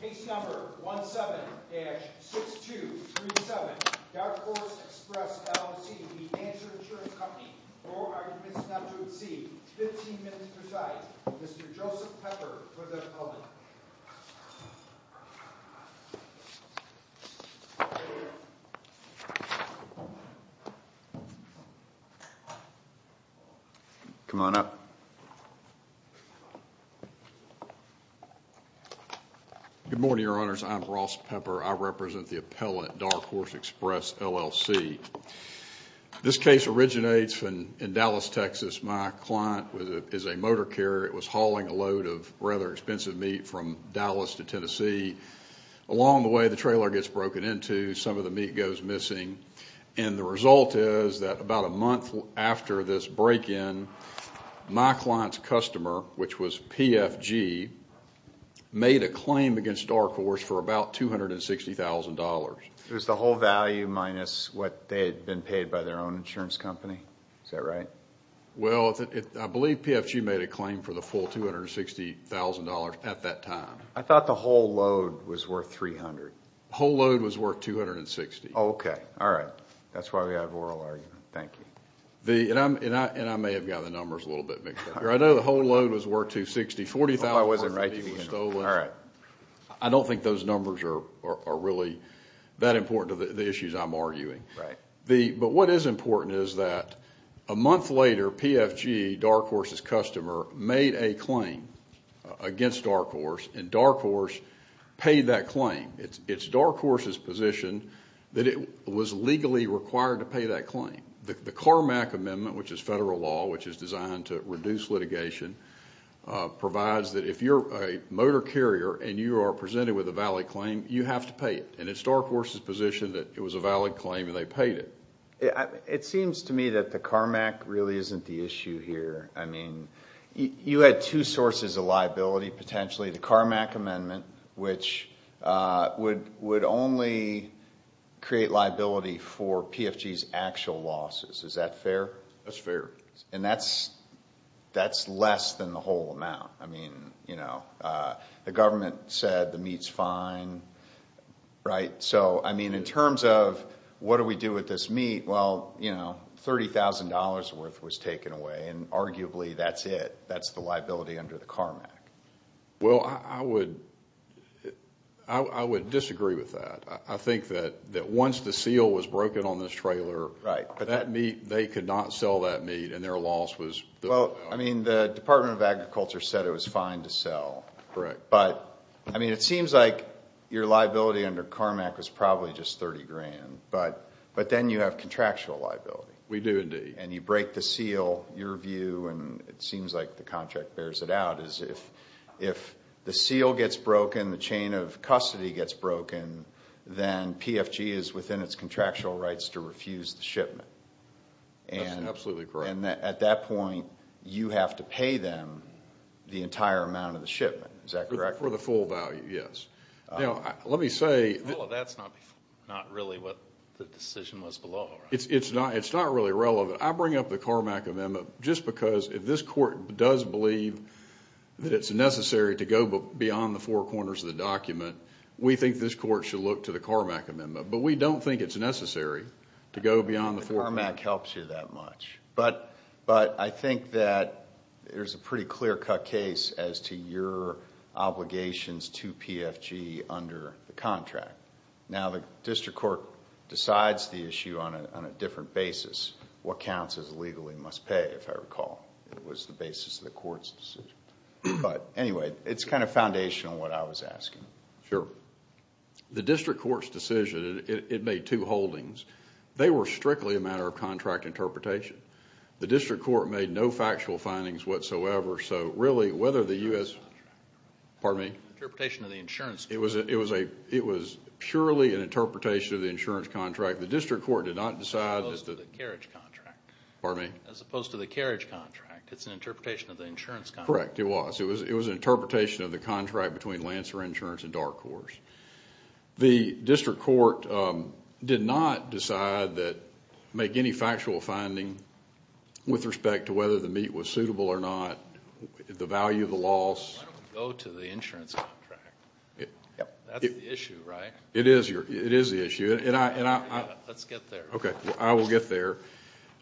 Case number 17-6237, Dark Horse Express LLC v. Lancer Insurance Company. No arguments not to exceed 15 minutes per side. Mr. Joseph Pepper for the public. Come on up. Good morning, Your Honors. I'm Ross Pepper. I represent the appellant, Dark Horse Express LLC. This case originates in Dallas, Texas. My client is a motor carrier. It was hauling a load of rather expensive meat from Dallas to Tennessee. Along the way, the trailer gets broken into. Some of the meat goes missing. And the result is that about a month after this break-in, my client's customer, which was PFG, made a claim against Dark Horse for about $260,000. It was the whole value minus what they had been paid by their own insurance company? Is that right? Well, I believe PFG made a claim for the full $260,000 at that time. I thought the whole load was worth $300,000. The whole load was worth $260,000. Okay. All right. That's why we have oral argument. Thank you. And I may have gotten the numbers a little bit mixed up here. I know the whole load was worth $260,000. $40,000 of meat was stolen. All right. I don't think those numbers are really that important to the issues I'm arguing. But what is important is that a month later, PFG, Dark Horse's customer, made a claim against Dark Horse, and Dark Horse paid that claim. The CARMAC amendment, which is federal law, which is designed to reduce litigation, provides that if you're a motor carrier and you are presented with a valid claim, you have to pay it. And it's Dark Horse's position that it was a valid claim and they paid it. It seems to me that the CARMAC really isn't the issue here. I mean, you had two sources of liability, potentially. The CARMAC amendment, which would only create liability for PFG's actual losses. Is that fair? That's fair. And that's less than the whole amount. I mean, you know, the government said the meat's fine, right? So, I mean, in terms of what do we do with this meat? Well, you know, $30,000 worth was taken away, and arguably that's it. That's the liability under the CARMAC. Well, I would disagree with that. I think that once the seal was broken on this trailer, that meat, they could not sell that meat and their loss was... Well, I mean, the Department of Agriculture said it was fine to sell. Correct. But, I mean, it seems like your liability under CARMAC was probably just $30,000. But then you have contractual liability. We do indeed. And you break the seal. Your view, and it seems like the contract bears it out, is if the seal gets broken, the chain of custody gets broken, then PFG is within its contractual rights to refuse the shipment. That's absolutely correct. And at that point, you have to pay them the entire amount of the shipment. Is that correct? For the full value, yes. Now, let me say... Well, that's not really what the decision was below, right? It's not really relevant. I bring up the CARMAC amendment just because if this court does believe that it's necessary to go beyond the four corners of the document, we think this court should look to the CARMAC amendment. But we don't think it's necessary to go beyond the four corners. CARMAC helps you that much. But I think that there's a pretty clear-cut case as to your obligations to PFG under the contract. Now, the district court decides the issue on a different basis. What counts as legally must pay, if I recall. It was the basis of the court's decision. But anyway, it's kind of foundational, what I was asking. Sure. The district court's decision, it made two holdings. They were strictly a matter of contract interpretation. The district court made no factual findings whatsoever. So really, whether the U.S.... Pardon me? Interpretation of the insurance. It was purely an interpretation of the insurance contract. The district court did not decide... As opposed to the carriage contract. Pardon me? As opposed to the carriage contract. It's an interpretation of the insurance contract. Correct, it was. It was an interpretation of the contract between Lancer Insurance and Dark Horse. The district court did not decide that, make any factual finding with respect to whether the meat was suitable or not, the value of the loss. Why don't we go to the insurance contract? That's the issue, right? It is the issue. Let's get there. Okay, I will get there.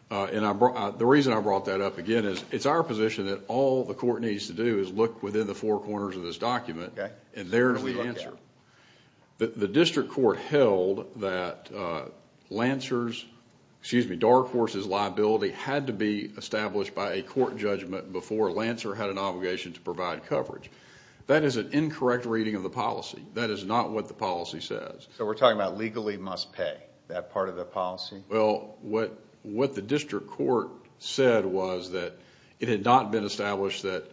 The reason I brought that up, again, is it's our position that all the court needs to do is look within the four corners of this document, and there's the answer. The district court held that Dark Horse's liability had to be established by a court judgment before Lancer had an obligation to provide coverage. That is an incorrect reading of the policy. That is not what the policy says. So we're talking about legally must pay, that part of the policy? Well, what the district court said was that it had not been established that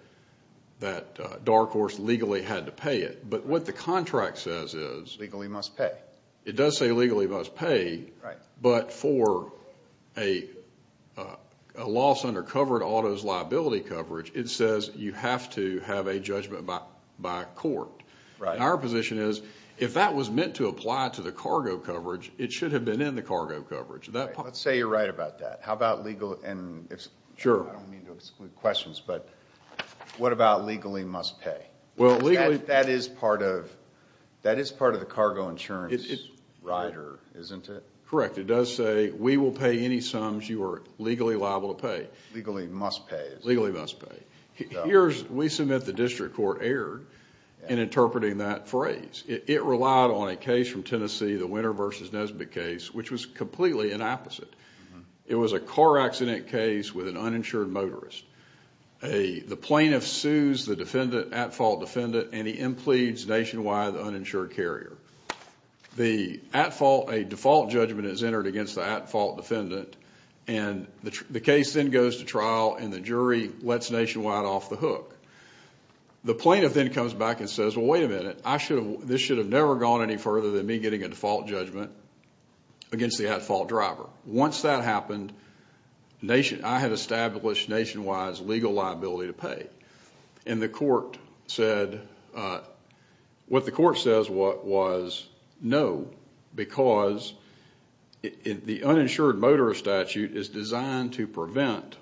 Dark Horse legally had to pay it. But what the contract says is legally must pay. It does say legally must pay, but for a loss under covered auto's liability coverage, it says you have to have a judgment by court. Our position is if that was meant to apply to the cargo coverage, it should have been in the cargo coverage. Let's say you're right about that. I don't mean to exclude questions, but what about legally must pay? That is part of the cargo insurance rider, isn't it? Correct. It does say we will pay any sums you are legally liable to pay. Legally must pay. Legally must pay. We submit the district court erred in interpreting that phrase. It relied on a case from Tennessee, the Winter v. Nesbitt case, which was completely an opposite. It was a car accident case with an uninsured motorist. The plaintiff sues the defendant, at-fault defendant, and he impledes nationwide the uninsured carrier. A default judgment is entered against the at-fault defendant, and the case then goes to trial, and the jury lets nationwide off the hook. The plaintiff then comes back and says, well, wait a minute. This should have never gone any further than me getting a default judgment against the at-fault driver. Once that happened, I had established nationwide legal liability to pay, and what the court says was no because the uninsured motorist statute is designed to prevent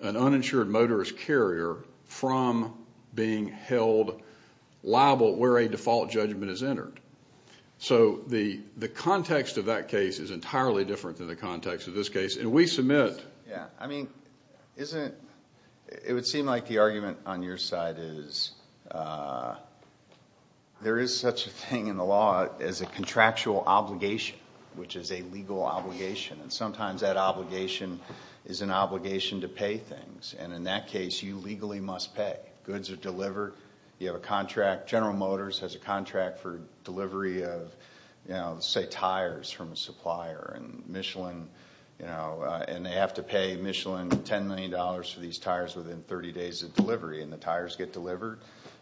an uninsured motorist carrier from being held liable where a default judgment is entered. So the context of that case is entirely different than the context of this case, and we submit. Yeah, I mean, it would seem like the argument on your side is there is such a thing in the law as a contractual obligation, which is a legal obligation, and sometimes that obligation is an obligation to pay things, and in that case, you legally must pay. Goods are delivered. You have a contract. General Motors has a contract for delivery of, say, tires from a supplier, and they have to pay Michelin $10 million for these tires within 30 days of delivery, and the tires get delivered,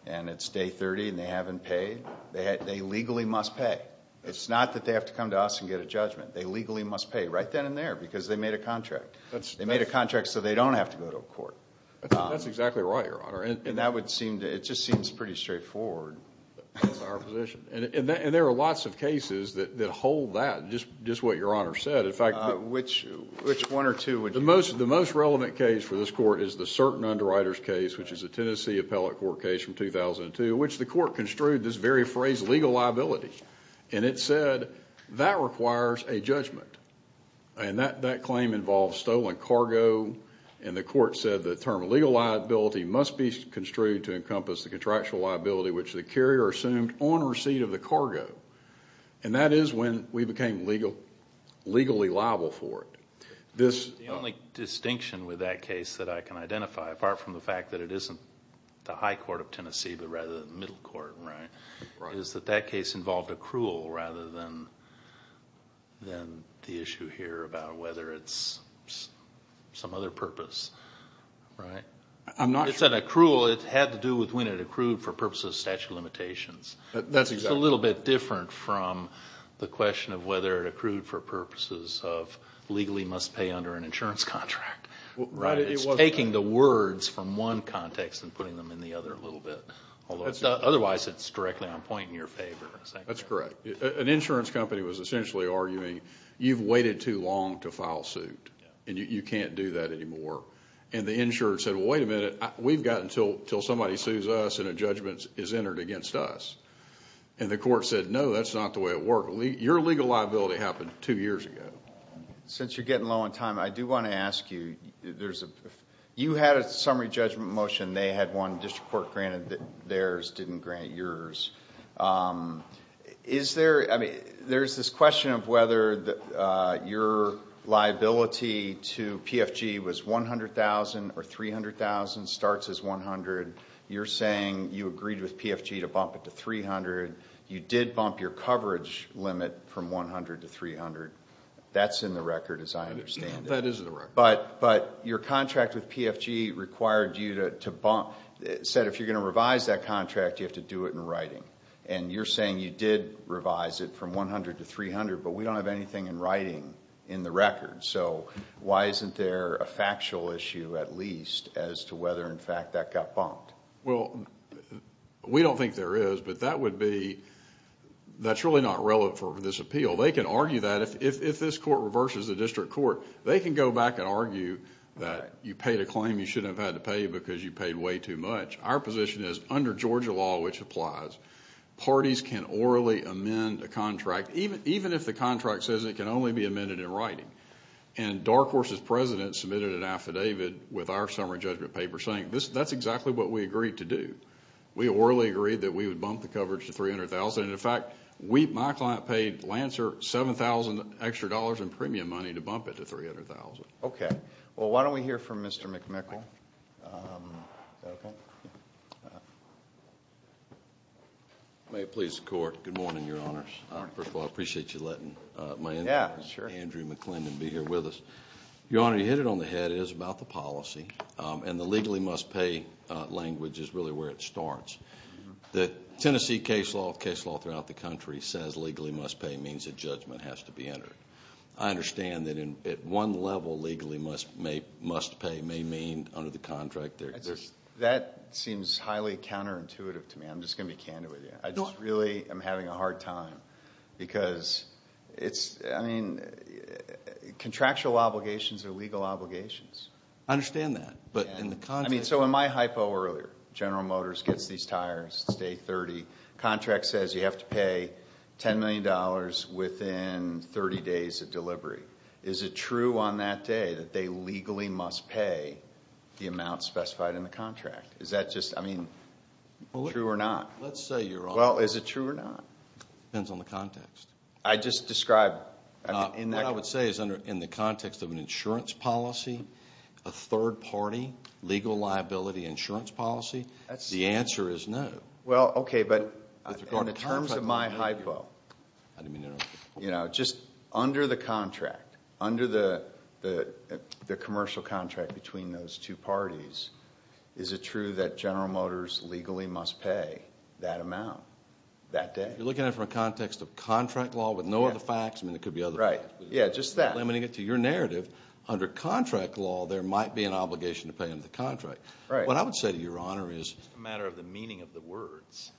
and it's day 30, and they haven't paid. They legally must pay. It's not that they have to come to us and get a judgment. They legally must pay right then and there because they made a contract. They made a contract so they don't have to go to a court. That's exactly right, Your Honor. And that would seem to, it just seems pretty straightforward. That's our position. And there are lots of cases that hold that, just what Your Honor said. Which one or two? The most relevant case for this Court is the Certain Underwriters case, which is a Tennessee Appellate Court case from 2002, which the Court construed this very phrase, legal liability, and it said that requires a judgment, and that claim involves stolen cargo, and the Court said the term legal liability must be construed to encompass the contractual liability which the carrier assumed on receipt of the cargo. And that is when we became legally liable for it. The only distinction with that case that I can identify, apart from the fact that it isn't the high court of Tennessee but rather the middle court, right, is that that case involved accrual rather than the issue here about whether it's some other purpose, right? I'm not sure. It's an accrual. It had to do with when it accrued for purposes of statute of limitations. That's exactly right. It's a little bit different from the question of whether it accrued for purposes of legally must pay under an insurance contract. It's taking the words from one context and putting them in the other a little bit. Otherwise, it's directly on point in your favor. That's correct. An insurance company was essentially arguing you've waited too long to file suit, and you can't do that anymore. And the insurer said, well, wait a minute, we've got until somebody sues us and a judgment is entered against us. And the Court said, no, that's not the way it works. Your legal liability happened two years ago. Since you're getting low on time, I do want to ask you, you had a summary judgment motion. They had one district court granted theirs, didn't grant yours. There's this question of whether your liability to PFG was $100,000 or $300,000, starts as $100,000. You're saying you agreed with PFG to bump it to $300,000. You did bump your coverage limit from $100,000 to $300,000. That's in the record, as I understand it. That is in the record. But your contract with PFG required you to bump, said if you're going to revise that contract, you have to do it in writing. And you're saying you did revise it from $100,000 to $300,000, but we don't have anything in writing in the record. So why isn't there a factual issue, at least, as to whether, in fact, that got bumped? Well, we don't think there is, but that would be, that's really not relevant for this appeal. They can argue that if this court reverses the district court. They can go back and argue that you paid a claim you shouldn't have had to pay because you paid way too much. Our position is, under Georgia law, which applies, parties can orally amend a contract, even if the contract says it can only be amended in writing. And Dark Horse's president submitted an affidavit with our summary judgment paper saying that's exactly what we agreed to do. We orally agreed that we would bump the coverage to $300,000. And, in fact, my client paid Lancer $7,000 extra dollars in premium money to bump it to $300,000. Okay. Well, why don't we hear from Mr. McMickle? May it please the Court. Good morning, Your Honors. First of all, I appreciate you letting my in-law, Andrew McClendon, be here with us. Your Honor, you hit it on the head. It is about the policy. And the legally must pay language is really where it starts. The Tennessee case law, the case law throughout the country, says legally must pay means a judgment has to be entered. I understand that, at one level, legally must pay may mean under the contract there is. That seems highly counterintuitive to me. I'm just going to be candid with you. I just really am having a hard time because it's, I mean, contractual obligations are legal obligations. I understand that. I mean, so in my hypo earlier, General Motors gets these tires, it's day 30. Contract says you have to pay $10 million within 30 days of delivery. Is it true on that day that they legally must pay the amount specified in the contract? Is that just, I mean, true or not? Let's say, Your Honor. Well, is it true or not? Depends on the context. I just described. What I would say is in the context of an insurance policy, a third party legal liability insurance policy, the answer is no. Well, okay, but in terms of my hypo, you know, just under the contract, under the commercial contract between those two parties, is it true that General Motors legally must pay that amount that day? You're looking at it from a context of contract law with no other facts? I mean, it could be other facts. Yeah, just that. Limiting it to your narrative, under contract law, there might be an obligation to pay under the contract. What I would say to Your Honor is... It's a matter of the meaning of the words.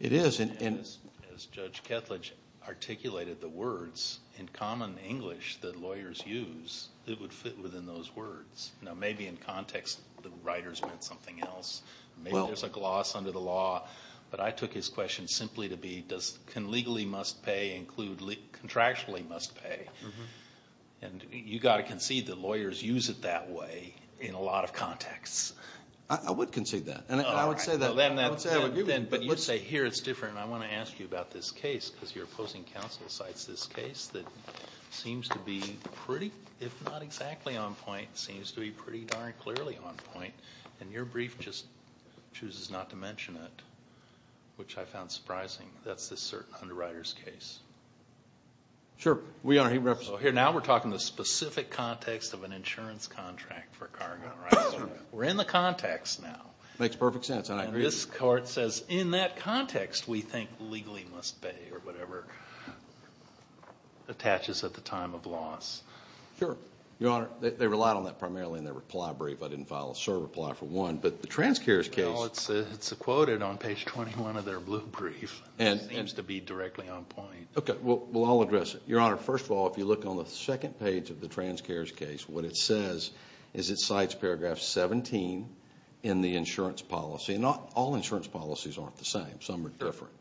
It is. As Judge Ketledge articulated the words, in common English that lawyers use, it would fit within those words. Now, maybe in context, the writers meant something else. Maybe there's a gloss under the law. But I took his question simply to be does legally must pay include contractually must pay. And you've got to concede that lawyers use it that way in a lot of contexts. I would concede that. And I would say that. I would agree with you. But you say here it's different. I want to ask you about this case because you're opposing counsel cites this case that seems to be pretty, if not exactly on point, seems to be pretty darn clearly on point. And your brief just chooses not to mention it, which I found surprising. That's this certain underwriter's case. Sure. Your Honor, he represents... Now we're talking the specific context of an insurance contract for cargo, right? We're in the context now. Makes perfect sense. And I agree. And this court says in that context we think legally must pay or whatever attaches at the time of loss. Sure. Your Honor, they relied on that primarily in their reply brief. I didn't file a server reply for one. But the transcares case... Well, it's quoted on page 21 of their blue brief. And it seems to be directly on point. Okay. Well, I'll address it. Your Honor, first of all, if you look on the second page of the transcares case, what it says is it cites paragraph 17 in the insurance policy. And all insurance policies aren't the same. Some are different.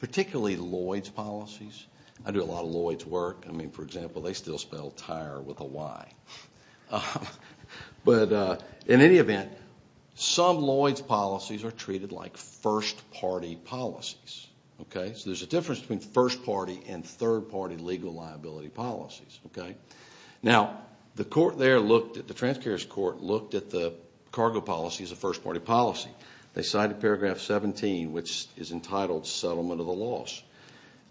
Particularly Lloyd's policies. I do a lot of Lloyd's work. I mean, for example, they still spell tire with a Y. But in any event, some Lloyd's policies are treated like first-party policies. Okay? So there's a difference between first-party and third-party legal liability policies. Okay? Now, the court there looked at... the transcares court looked at the cargo policy as a first-party policy. They cited paragraph 17, which is entitled settlement of the loss.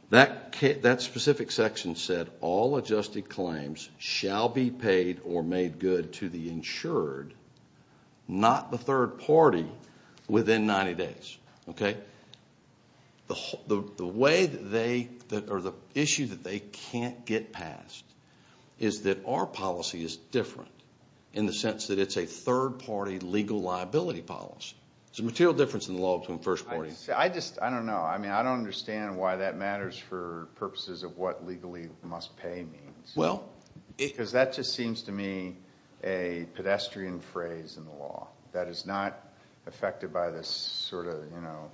That specific section said all adjusted claims shall be paid or made good to the insured, not the third party, within 90 days. Okay? The way that they... or the issue that they can't get past is that our policy is different in the sense that it's a third-party legal liability policy. There's a material difference in the law between first parties. I just... I don't know. I mean, I don't understand why that matters for purposes of what legally must pay means. Well... Because that just seems to me a pedestrian phrase in the law. That is not affected by this sort of, you know,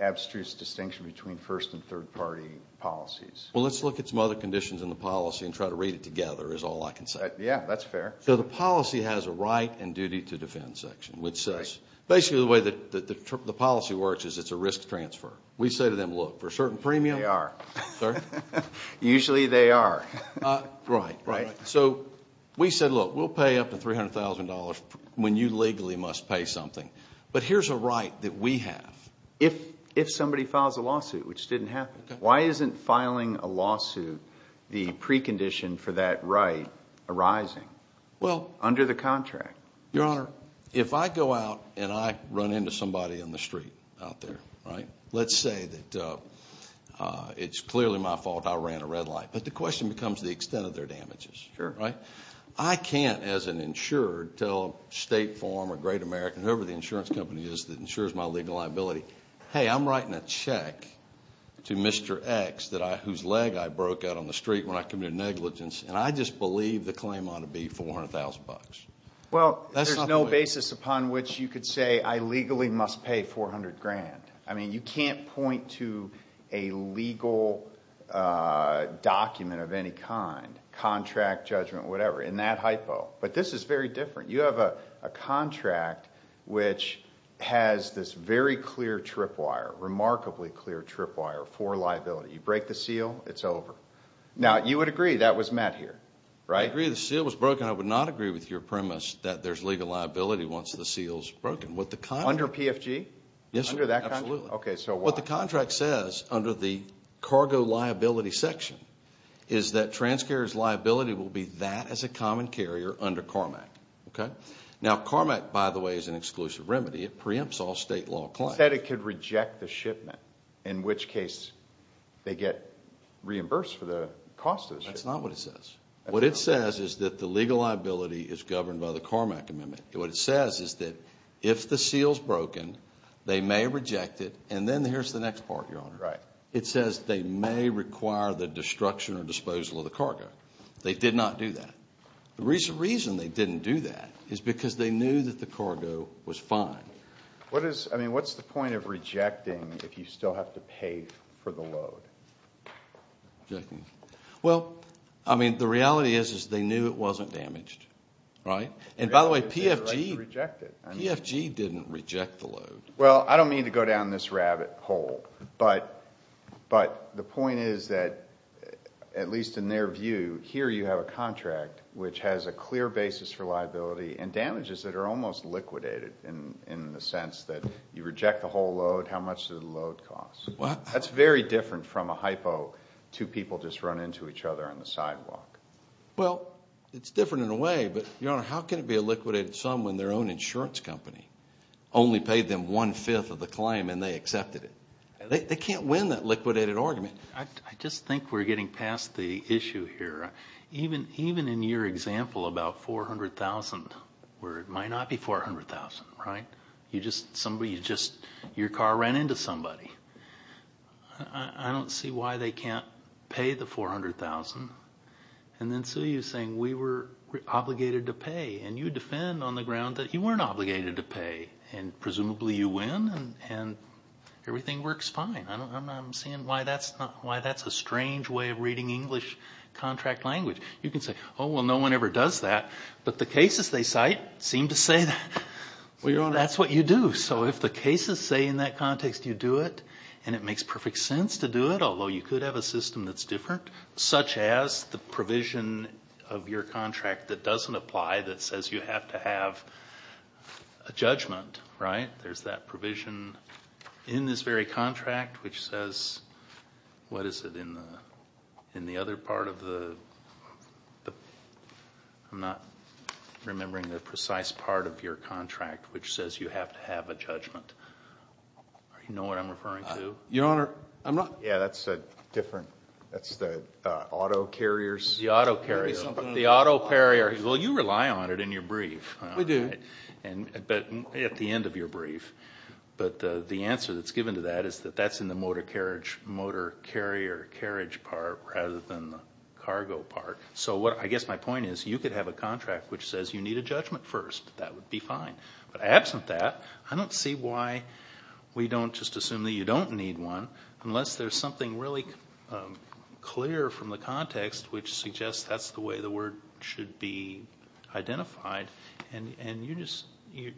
abstruse distinction between first- and third-party policies. Well, let's look at some other conditions in the policy and try to read it together is all I can say. Yeah, that's fair. So the policy has a right and duty to defend section, which says... Right. We say to them, look, for a certain premium... They are. Sir? Usually they are. Right. Right. So we said, look, we'll pay up to $300,000 when you legally must pay something. But here's a right that we have. If somebody files a lawsuit, which didn't happen, why isn't filing a lawsuit the precondition for that right arising under the contract? Your Honor, if I go out and I run into somebody on the street out there, right, let's say that it's clearly my fault I ran a red light. But the question becomes the extent of their damages. Sure. Right? I can't, as an insurer, tell State Farm or Great American, whoever the insurance company is that insures my legal liability, hey, I'm writing a check to Mr. X whose leg I broke out on the street when I committed negligence, and I just believe the claim ought to be $400,000. Well, there's no basis upon which you could say I legally must pay $400,000. I mean, you can't point to a legal document of any kind, contract, judgment, whatever, in that hypo. But this is very different. You have a contract which has this very clear trip wire, remarkably clear trip wire for liability. You break the seal, it's over. Now, you would agree that was met here, right? I agree the seal was broken. I would not agree with your premise that there's legal liability once the seal's broken. Under PFG? Yes, sir. Under that contract? Absolutely. Okay, so why? What the contract says, under the cargo liability section, is that transcarrier's liability will be that as a common carrier under CARMAC. Okay? Now, CARMAC, by the way, is an exclusive remedy. It preempts all state law claims. You said it could reject the shipment, in which case they get reimbursed for the cost of the shipment. That's not what it says. What it says is that the legal liability is governed by the CARMAC Amendment. What it says is that if the seal's broken, they may reject it. And then here's the next part, Your Honor. Right. It says they may require the destruction or disposal of the cargo. They did not do that. The reason they didn't do that is because they knew that the cargo was fine. I mean, what's the point of rejecting if you still have to pay for the load? Well, I mean, the reality is they knew it wasn't damaged. Right? And, by the way, PFG didn't reject the load. Well, I don't mean to go down this rabbit hole, but the point is that, at least in their view, here you have a contract which has a clear basis for liability and damages that are almost liquidated in the sense that you reject the whole load. How much does the load cost? That's very different from a hypo, two people just run into each other on the sidewalk. Well, it's different in a way, but, Your Honor, how can it be a liquidated sum when their own insurance company only paid them one-fifth of the claim and they accepted it? They can't win that liquidated argument. I just think we're getting past the issue here. Even in your example about $400,000, where it might not be $400,000, right? You just, your car ran into somebody. I don't see why they can't pay the $400,000. And then Sue, you're saying we were obligated to pay, and you defend on the ground that you weren't obligated to pay, and presumably you win and everything works fine. I'm seeing why that's a strange way of reading English contract language. You can say, oh, well, no one ever does that, but the cases they cite seem to say that. That's what you do. So if the cases say in that context you do it and it makes perfect sense to do it, although you could have a system that's different, such as the provision of your contract that doesn't apply that says you have to have a judgment, right? There's that provision in this very contract which says, what is it in the other part of the, I'm not remembering the precise part of your contract which says you have to have a judgment. Do you know what I'm referring to? Your Honor, I'm not. Yeah, that's a different, that's the auto carriers. The auto carriers. The auto carriers. Well, you rely on it in your brief. We do. But at the end of your brief. But the answer that's given to that is that that's in the motor carriage, rather than the cargo part. So I guess my point is you could have a contract which says you need a judgment first. That would be fine. But absent that, I don't see why we don't just assume that you don't need one, unless there's something really clear from the context which suggests that's the way the word should be identified. And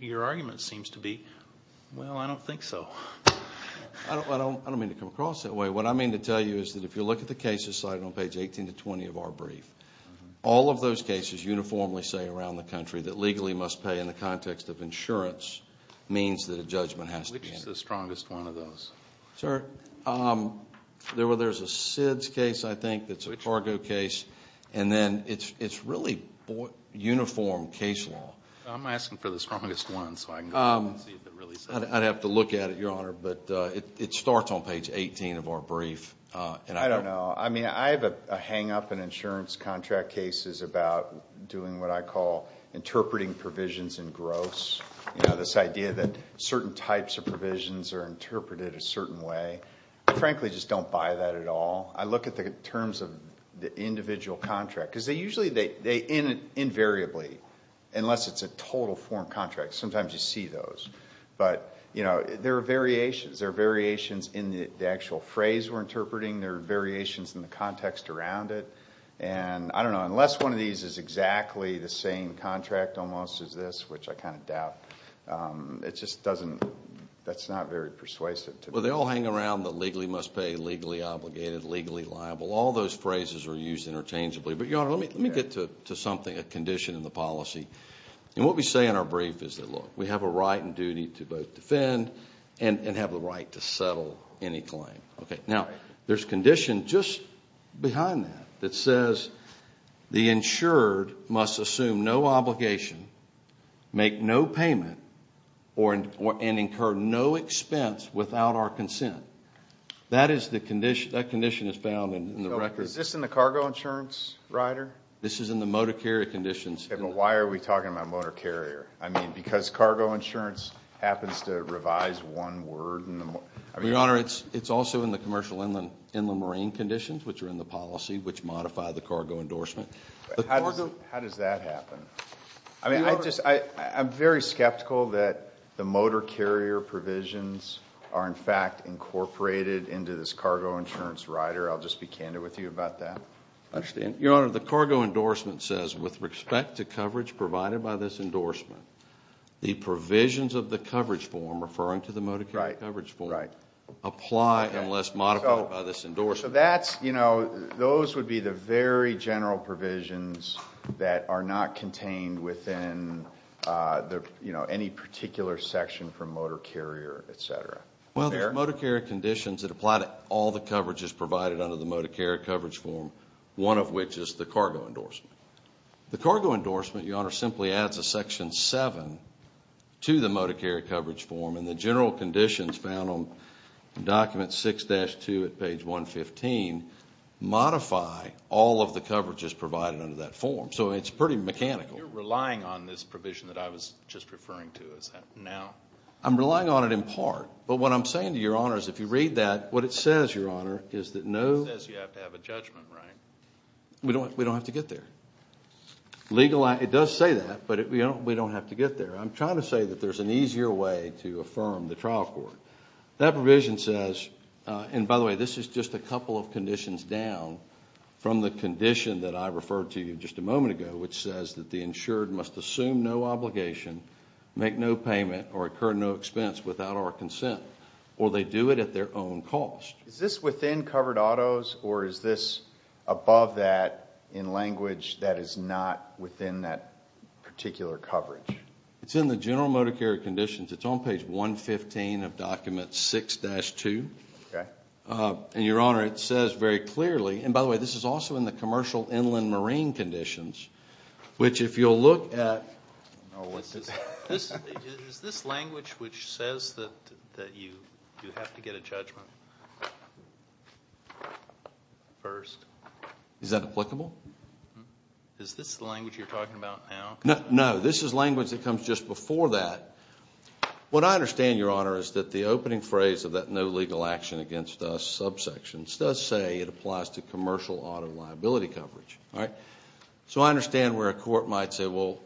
your argument seems to be, well, I don't think so. I don't mean to come across that way. What I mean to tell you is that if you look at the cases cited on page 18 to 20 of our brief, all of those cases uniformly say around the country that legally must pay in the context of insurance means that a judgment has to be entered. Which is the strongest one of those? Sir, there's a SIDS case, I think, that's a cargo case. And then it's really uniform case law. I'm asking for the strongest one so I can see if it really says that. I'd have to look at it, Your Honor, but it starts on page 18 of our brief. I don't know. I mean, I have a hang-up in insurance contract cases about doing what I call interpreting provisions in gross. You know, this idea that certain types of provisions are interpreted a certain way. I frankly just don't buy that at all. I look at the terms of the individual contract. Because they usually invariably, unless it's a total form contract, sometimes you see those. But, you know, there are variations. There are variations in the actual phrase we're interpreting. There are variations in the context around it. And I don't know, unless one of these is exactly the same contract almost as this, which I kind of doubt, it just doesn't, that's not very persuasive to me. Well, they all hang around the legally must pay, legally obligated, legally liable. All those phrases are used interchangeably. But, Your Honor, let me get to something, a condition in the policy. And what we say in our brief is that, look, we have a right and duty to both defend and have the right to settle any claim. Now, there's a condition just behind that that says the insured must assume no obligation, make no payment, and incur no expense without our consent. That condition is found in the record. Is this in the cargo insurance, Ryder? This is in the motor carrier conditions. Why are we talking about motor carrier? I mean, because cargo insurance happens to revise one word. Your Honor, it's also in the commercial inland marine conditions, which are in the policy, which modify the cargo endorsement. How does that happen? I mean, I'm very skeptical that the motor carrier provisions are, in fact, incorporated into this cargo insurance, Ryder. I'll just be candid with you about that. I understand. Your Honor, the cargo endorsement says, with respect to coverage provided by this endorsement, the provisions of the coverage form, referring to the motor carrier coverage form, apply unless modified by this endorsement. So that's, you know, those would be the very general provisions that are not contained within any particular section from motor carrier, et cetera. Well, there's motor carrier conditions that apply to all the coverages provided under the motor carrier coverage form, one of which is the cargo endorsement. The cargo endorsement, Your Honor, simply adds a section 7 to the motor carrier coverage form, and the general conditions found on document 6-2 at page 115 modify all of the coverages provided under that form. So it's pretty mechanical. You're relying on this provision that I was just referring to, is that now? I'm relying on it in part. But what I'm saying to Your Honor is if you read that, what it says, Your Honor, is that no It says you have to have a judgment, right? We don't have to get there. It does say that, but we don't have to get there. I'm trying to say that there's an easier way to affirm the trial court. That provision says, and by the way, this is just a couple of conditions down from the condition that I referred to just a moment ago, which says that the insured must assume no obligation, make no payment, or incur no expense without our consent, or they do it at their own cost. Is this within covered autos, or is this above that in language that is not within that particular coverage? It's in the general motor carrier conditions. It's on page 115 of document 6-2. And, Your Honor, it says very clearly, and by the way, this is also in the commercial inland marine conditions, which if you'll look at Is this language which says that you have to get a judgment first? Is that applicable? Is this the language you're talking about now? No, this is language that comes just before that. What I understand, Your Honor, is that the opening phrase of that no legal action against us subsection does say it applies to commercial auto liability coverage. So I understand where a court might say, well,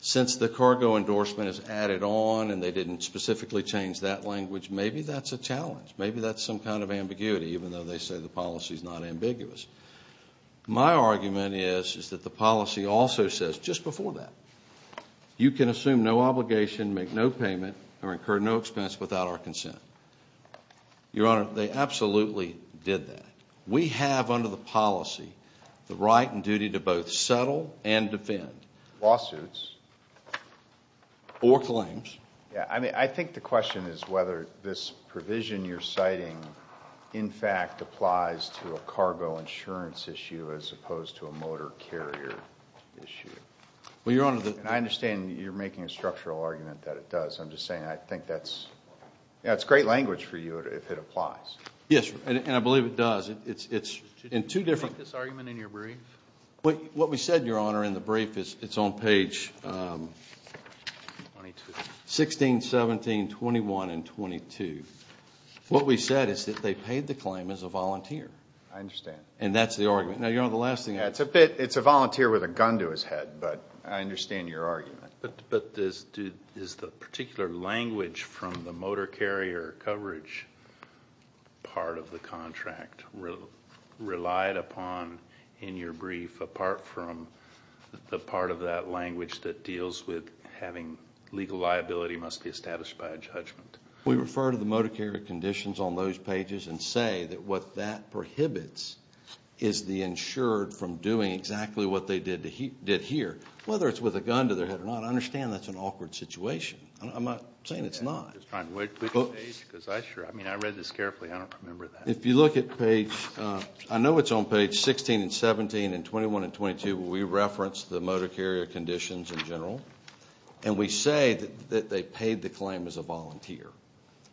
since the cargo endorsement is added on and they didn't specifically change that language, maybe that's a challenge. Maybe that's some kind of ambiguity, even though they say the policy is not ambiguous. My argument is that the policy also says just before that, you can assume no obligation, make no payment, or incur no expense without our consent. Your Honor, they absolutely did that. We have under the policy the right and duty to both settle and defend. Lawsuits. Or claims. I think the question is whether this provision you're citing, in fact, applies to a cargo insurance issue as opposed to a motor carrier issue. I understand you're making a structural argument that it does. I'm just saying I think that's great language for you if it applies. Yes, and I believe it does. Did you make this argument in your brief? What we said, Your Honor, in the brief, it's on page 16, 17, 21, and 22. What we said is that they paid the claim as a volunteer. I understand. And that's the argument. Now, Your Honor, the last thing. It's a volunteer with a gun to his head, but I understand your argument. But is the particular language from the motor carrier coverage part of the contract relied upon in your brief, apart from the part of that language that deals with having legal liability must be established by a judgment? We refer to the motor carrier conditions on those pages and say that what that prohibits is the insured from doing exactly what they did here, whether it's with a gun to their head or not. I understand that's an awkward situation. I'm not saying it's not. I'm just trying to wait for the page. I mean, I read this carefully. I don't remember that. If you look at page, I know it's on page 16 and 17 and 21 and 22, where we reference the motor carrier conditions in general, and we say that they paid the claim as a volunteer.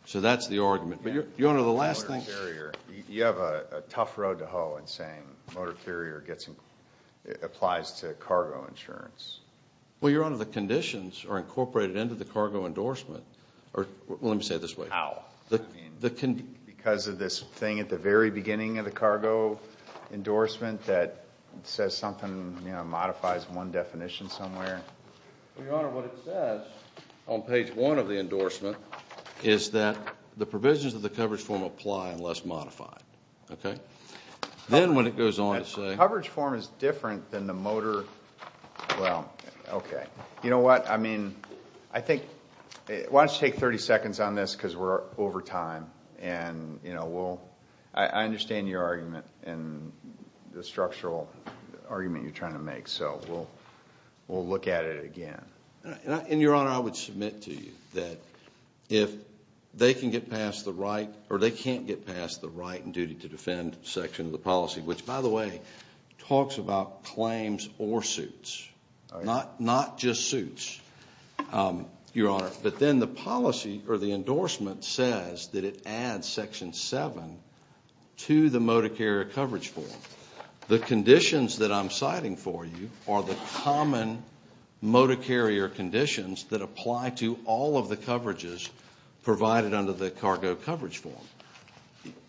So that's the argument. But, Your Honor, the last thing. You have a tough road to hoe in saying motor carrier applies to cargo insurance. Well, Your Honor, the conditions are incorporated into the cargo endorsement. Let me say it this way. How? Because of this thing at the very beginning of the cargo endorsement that says something, you know, modifies one definition somewhere. Well, Your Honor, what it says on page one of the endorsement is that the provisions of the coverage form apply unless modified. Okay? Then when it goes on to say... The coverage form is different than the motor... Well, okay. You know what? I mean, I think... Why don't you take 30 seconds on this because we're over time. And, you know, we'll... I understand your argument and the structural argument you're trying to make. So we'll look at it again. And, Your Honor, I would submit to you that if they can get past the right or they can't get past the right and duty to defend section of the policy, which, by the way, talks about claims or suits. All right. Not just suits, Your Honor. But then the policy or the endorsement says that it adds Section 7 to the motor carrier coverage form. The conditions that I'm citing for you are the common motor carrier conditions that apply to all of the coverages provided under the cargo coverage form.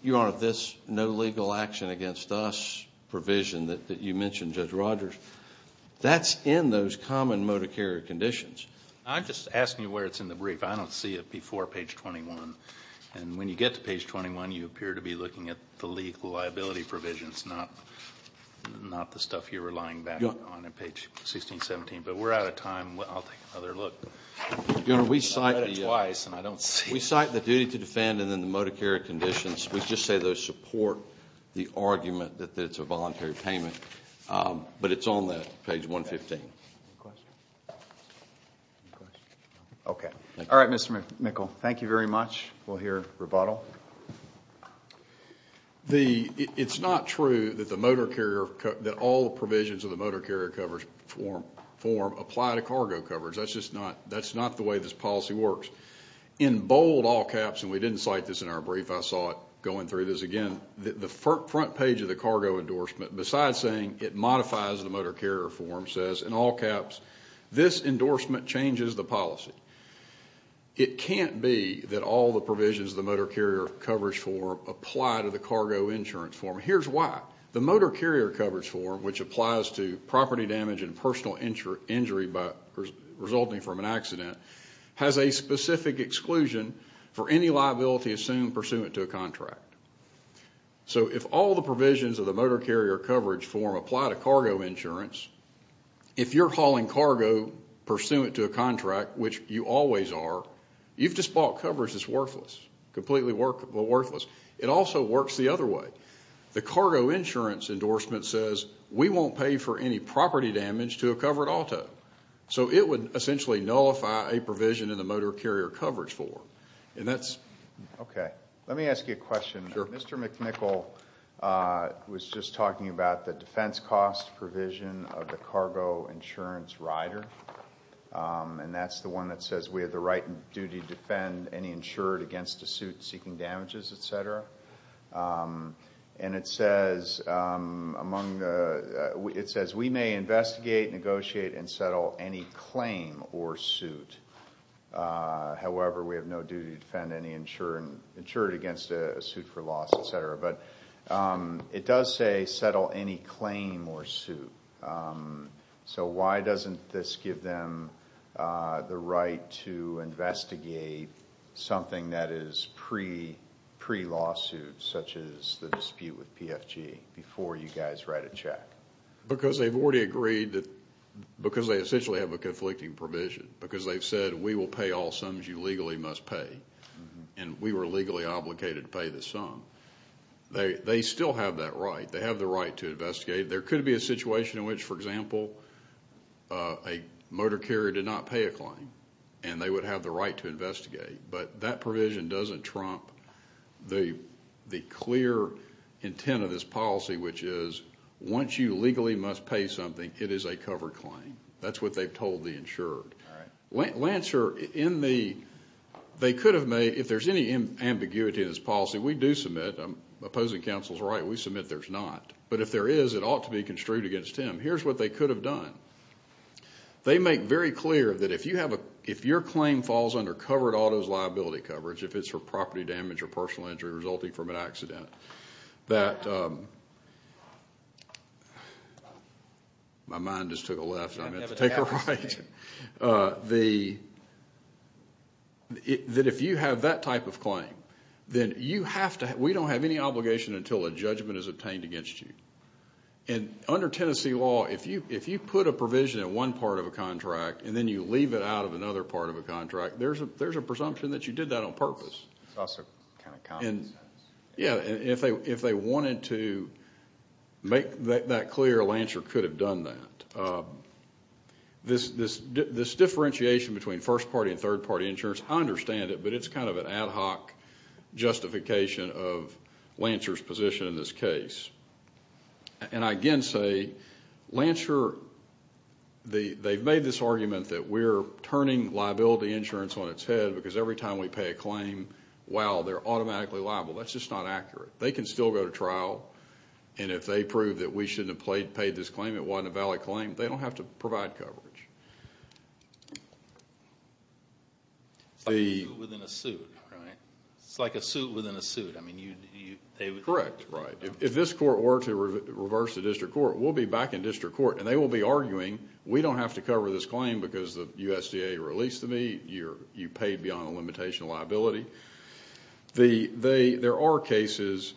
Your Honor, this no legal action against us provision that you mentioned, Judge Rogers, that's in those common motor carrier conditions. I'm just asking you where it's in the brief. I don't see it before page 21. And when you get to page 21, you appear to be looking at the legal liability provisions, not the stuff you were lying back on in page 1617. But we're out of time. I'll take another look. I've read it twice and I don't see it. We cite the duty to defend and then the motor carrier conditions. We just say those support the argument that it's a voluntary payment. But it's on that, page 115. Any questions? Okay. All right, Mr. Mickel. Thank you very much. We'll hear rebuttal. It's not true that the motor carrier, that all the provisions of the motor carrier coverage form apply to cargo coverage. That's just not the way this policy works. In bold, all caps, and we didn't cite this in our brief. I saw it going through this again. The front page of the cargo endorsement, besides saying it modifies the motor carrier form, says, in all caps, this endorsement changes the policy. It can't be that all the provisions of the motor carrier coverage form apply to the cargo insurance form. Here's why. The motor carrier coverage form, which applies to property damage and personal injury resulting from an accident, has a specific exclusion for any liability assumed pursuant to a contract. So if all the provisions of the motor carrier coverage form apply to cargo insurance, if you're hauling cargo pursuant to a contract, which you always are, you've just bought coverage that's worthless, completely worthless. It also works the other way. The cargo insurance endorsement says, we won't pay for any property damage to a covered auto. So it would essentially nullify a provision in the motor carrier coverage form. Okay, let me ask you a question. Mr. McNichol was just talking about the defense cost provision of the cargo insurance rider, and that's the one that says we have the right and duty to defend any insured against a suit seeking damages, etc. And it says, we may investigate, negotiate, and settle any claim or suit. However, we have no duty to defend any insured against a suit for loss, etc. But it does say settle any claim or suit. So why doesn't this give them the right to investigate something that is pre-lawsuit, such as the dispute with PFG, before you guys write a check? Because they've already agreed that, because they essentially have a conflicting provision. Because they've said, we will pay all sums you legally must pay, and we were legally obligated to pay this sum. They still have that right. They have the right to investigate. There could be a situation in which, for example, a motor carrier did not pay a claim, and they would have the right to investigate. But that provision doesn't trump the clear intent of this policy, which is, once you legally must pay something, it is a covered claim. That's what they've told the insured. All right. Lancer, in the, they could have made, if there's any ambiguity in this policy, we do submit, opposing counsel's right, we submit there's not. But if there is, it ought to be construed against him. Here's what they could have done. They make very clear that if you have a, if your claim falls under covered auto's liability coverage, if it's for property damage or personal injury resulting from an accident, that, my mind just took a left and I meant to take a right, that if you have that type of claim, then you have to, we don't have any obligation until a judgment is obtained against you. And under Tennessee law, if you put a provision in one part of a contract and then you leave it out of another part of a contract, there's a presumption that you did that on purpose. It's also kind of common sense. Yeah. If they wanted to make that clear, Lancer could have done that. This differentiation between first party and third party insurance, I understand it, but it's kind of an ad hoc justification of Lancer's position in this case. And I again say, Lancer, they've made this argument that we're turning liability insurance on its head because every time we pay a claim, wow, they're automatically liable. That's just not accurate. They can still go to trial, and if they prove that we shouldn't have paid this claim, it wasn't a valid claim, they don't have to provide coverage. It's like a suit within a suit, right? It's like a suit within a suit. Correct, right. If this court were to reverse the district court, we'll be back in district court, and they will be arguing, we don't have to cover this claim because the USDA released me, you paid beyond the limitation of liability. There are cases,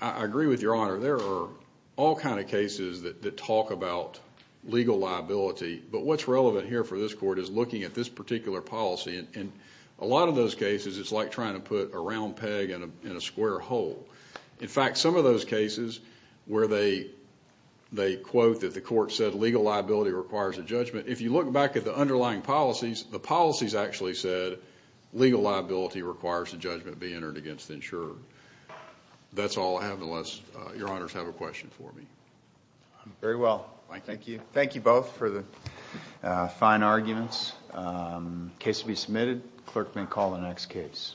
I agree with Your Honor, there are all kinds of cases that talk about legal liability, but what's relevant here for this court is looking at this particular policy, and a lot of those cases it's like trying to put a round peg in a square hole. In fact, some of those cases where they quote that the court said legal liability requires a judgment, if you look back at the underlying policies, the policies actually said legal liability requires a judgment be entered against the insurer. That's all I have, unless Your Honors have a question for me. Very well. Thank you. Thank you both for the fine arguments. Case to be submitted. Clerk may call the next case.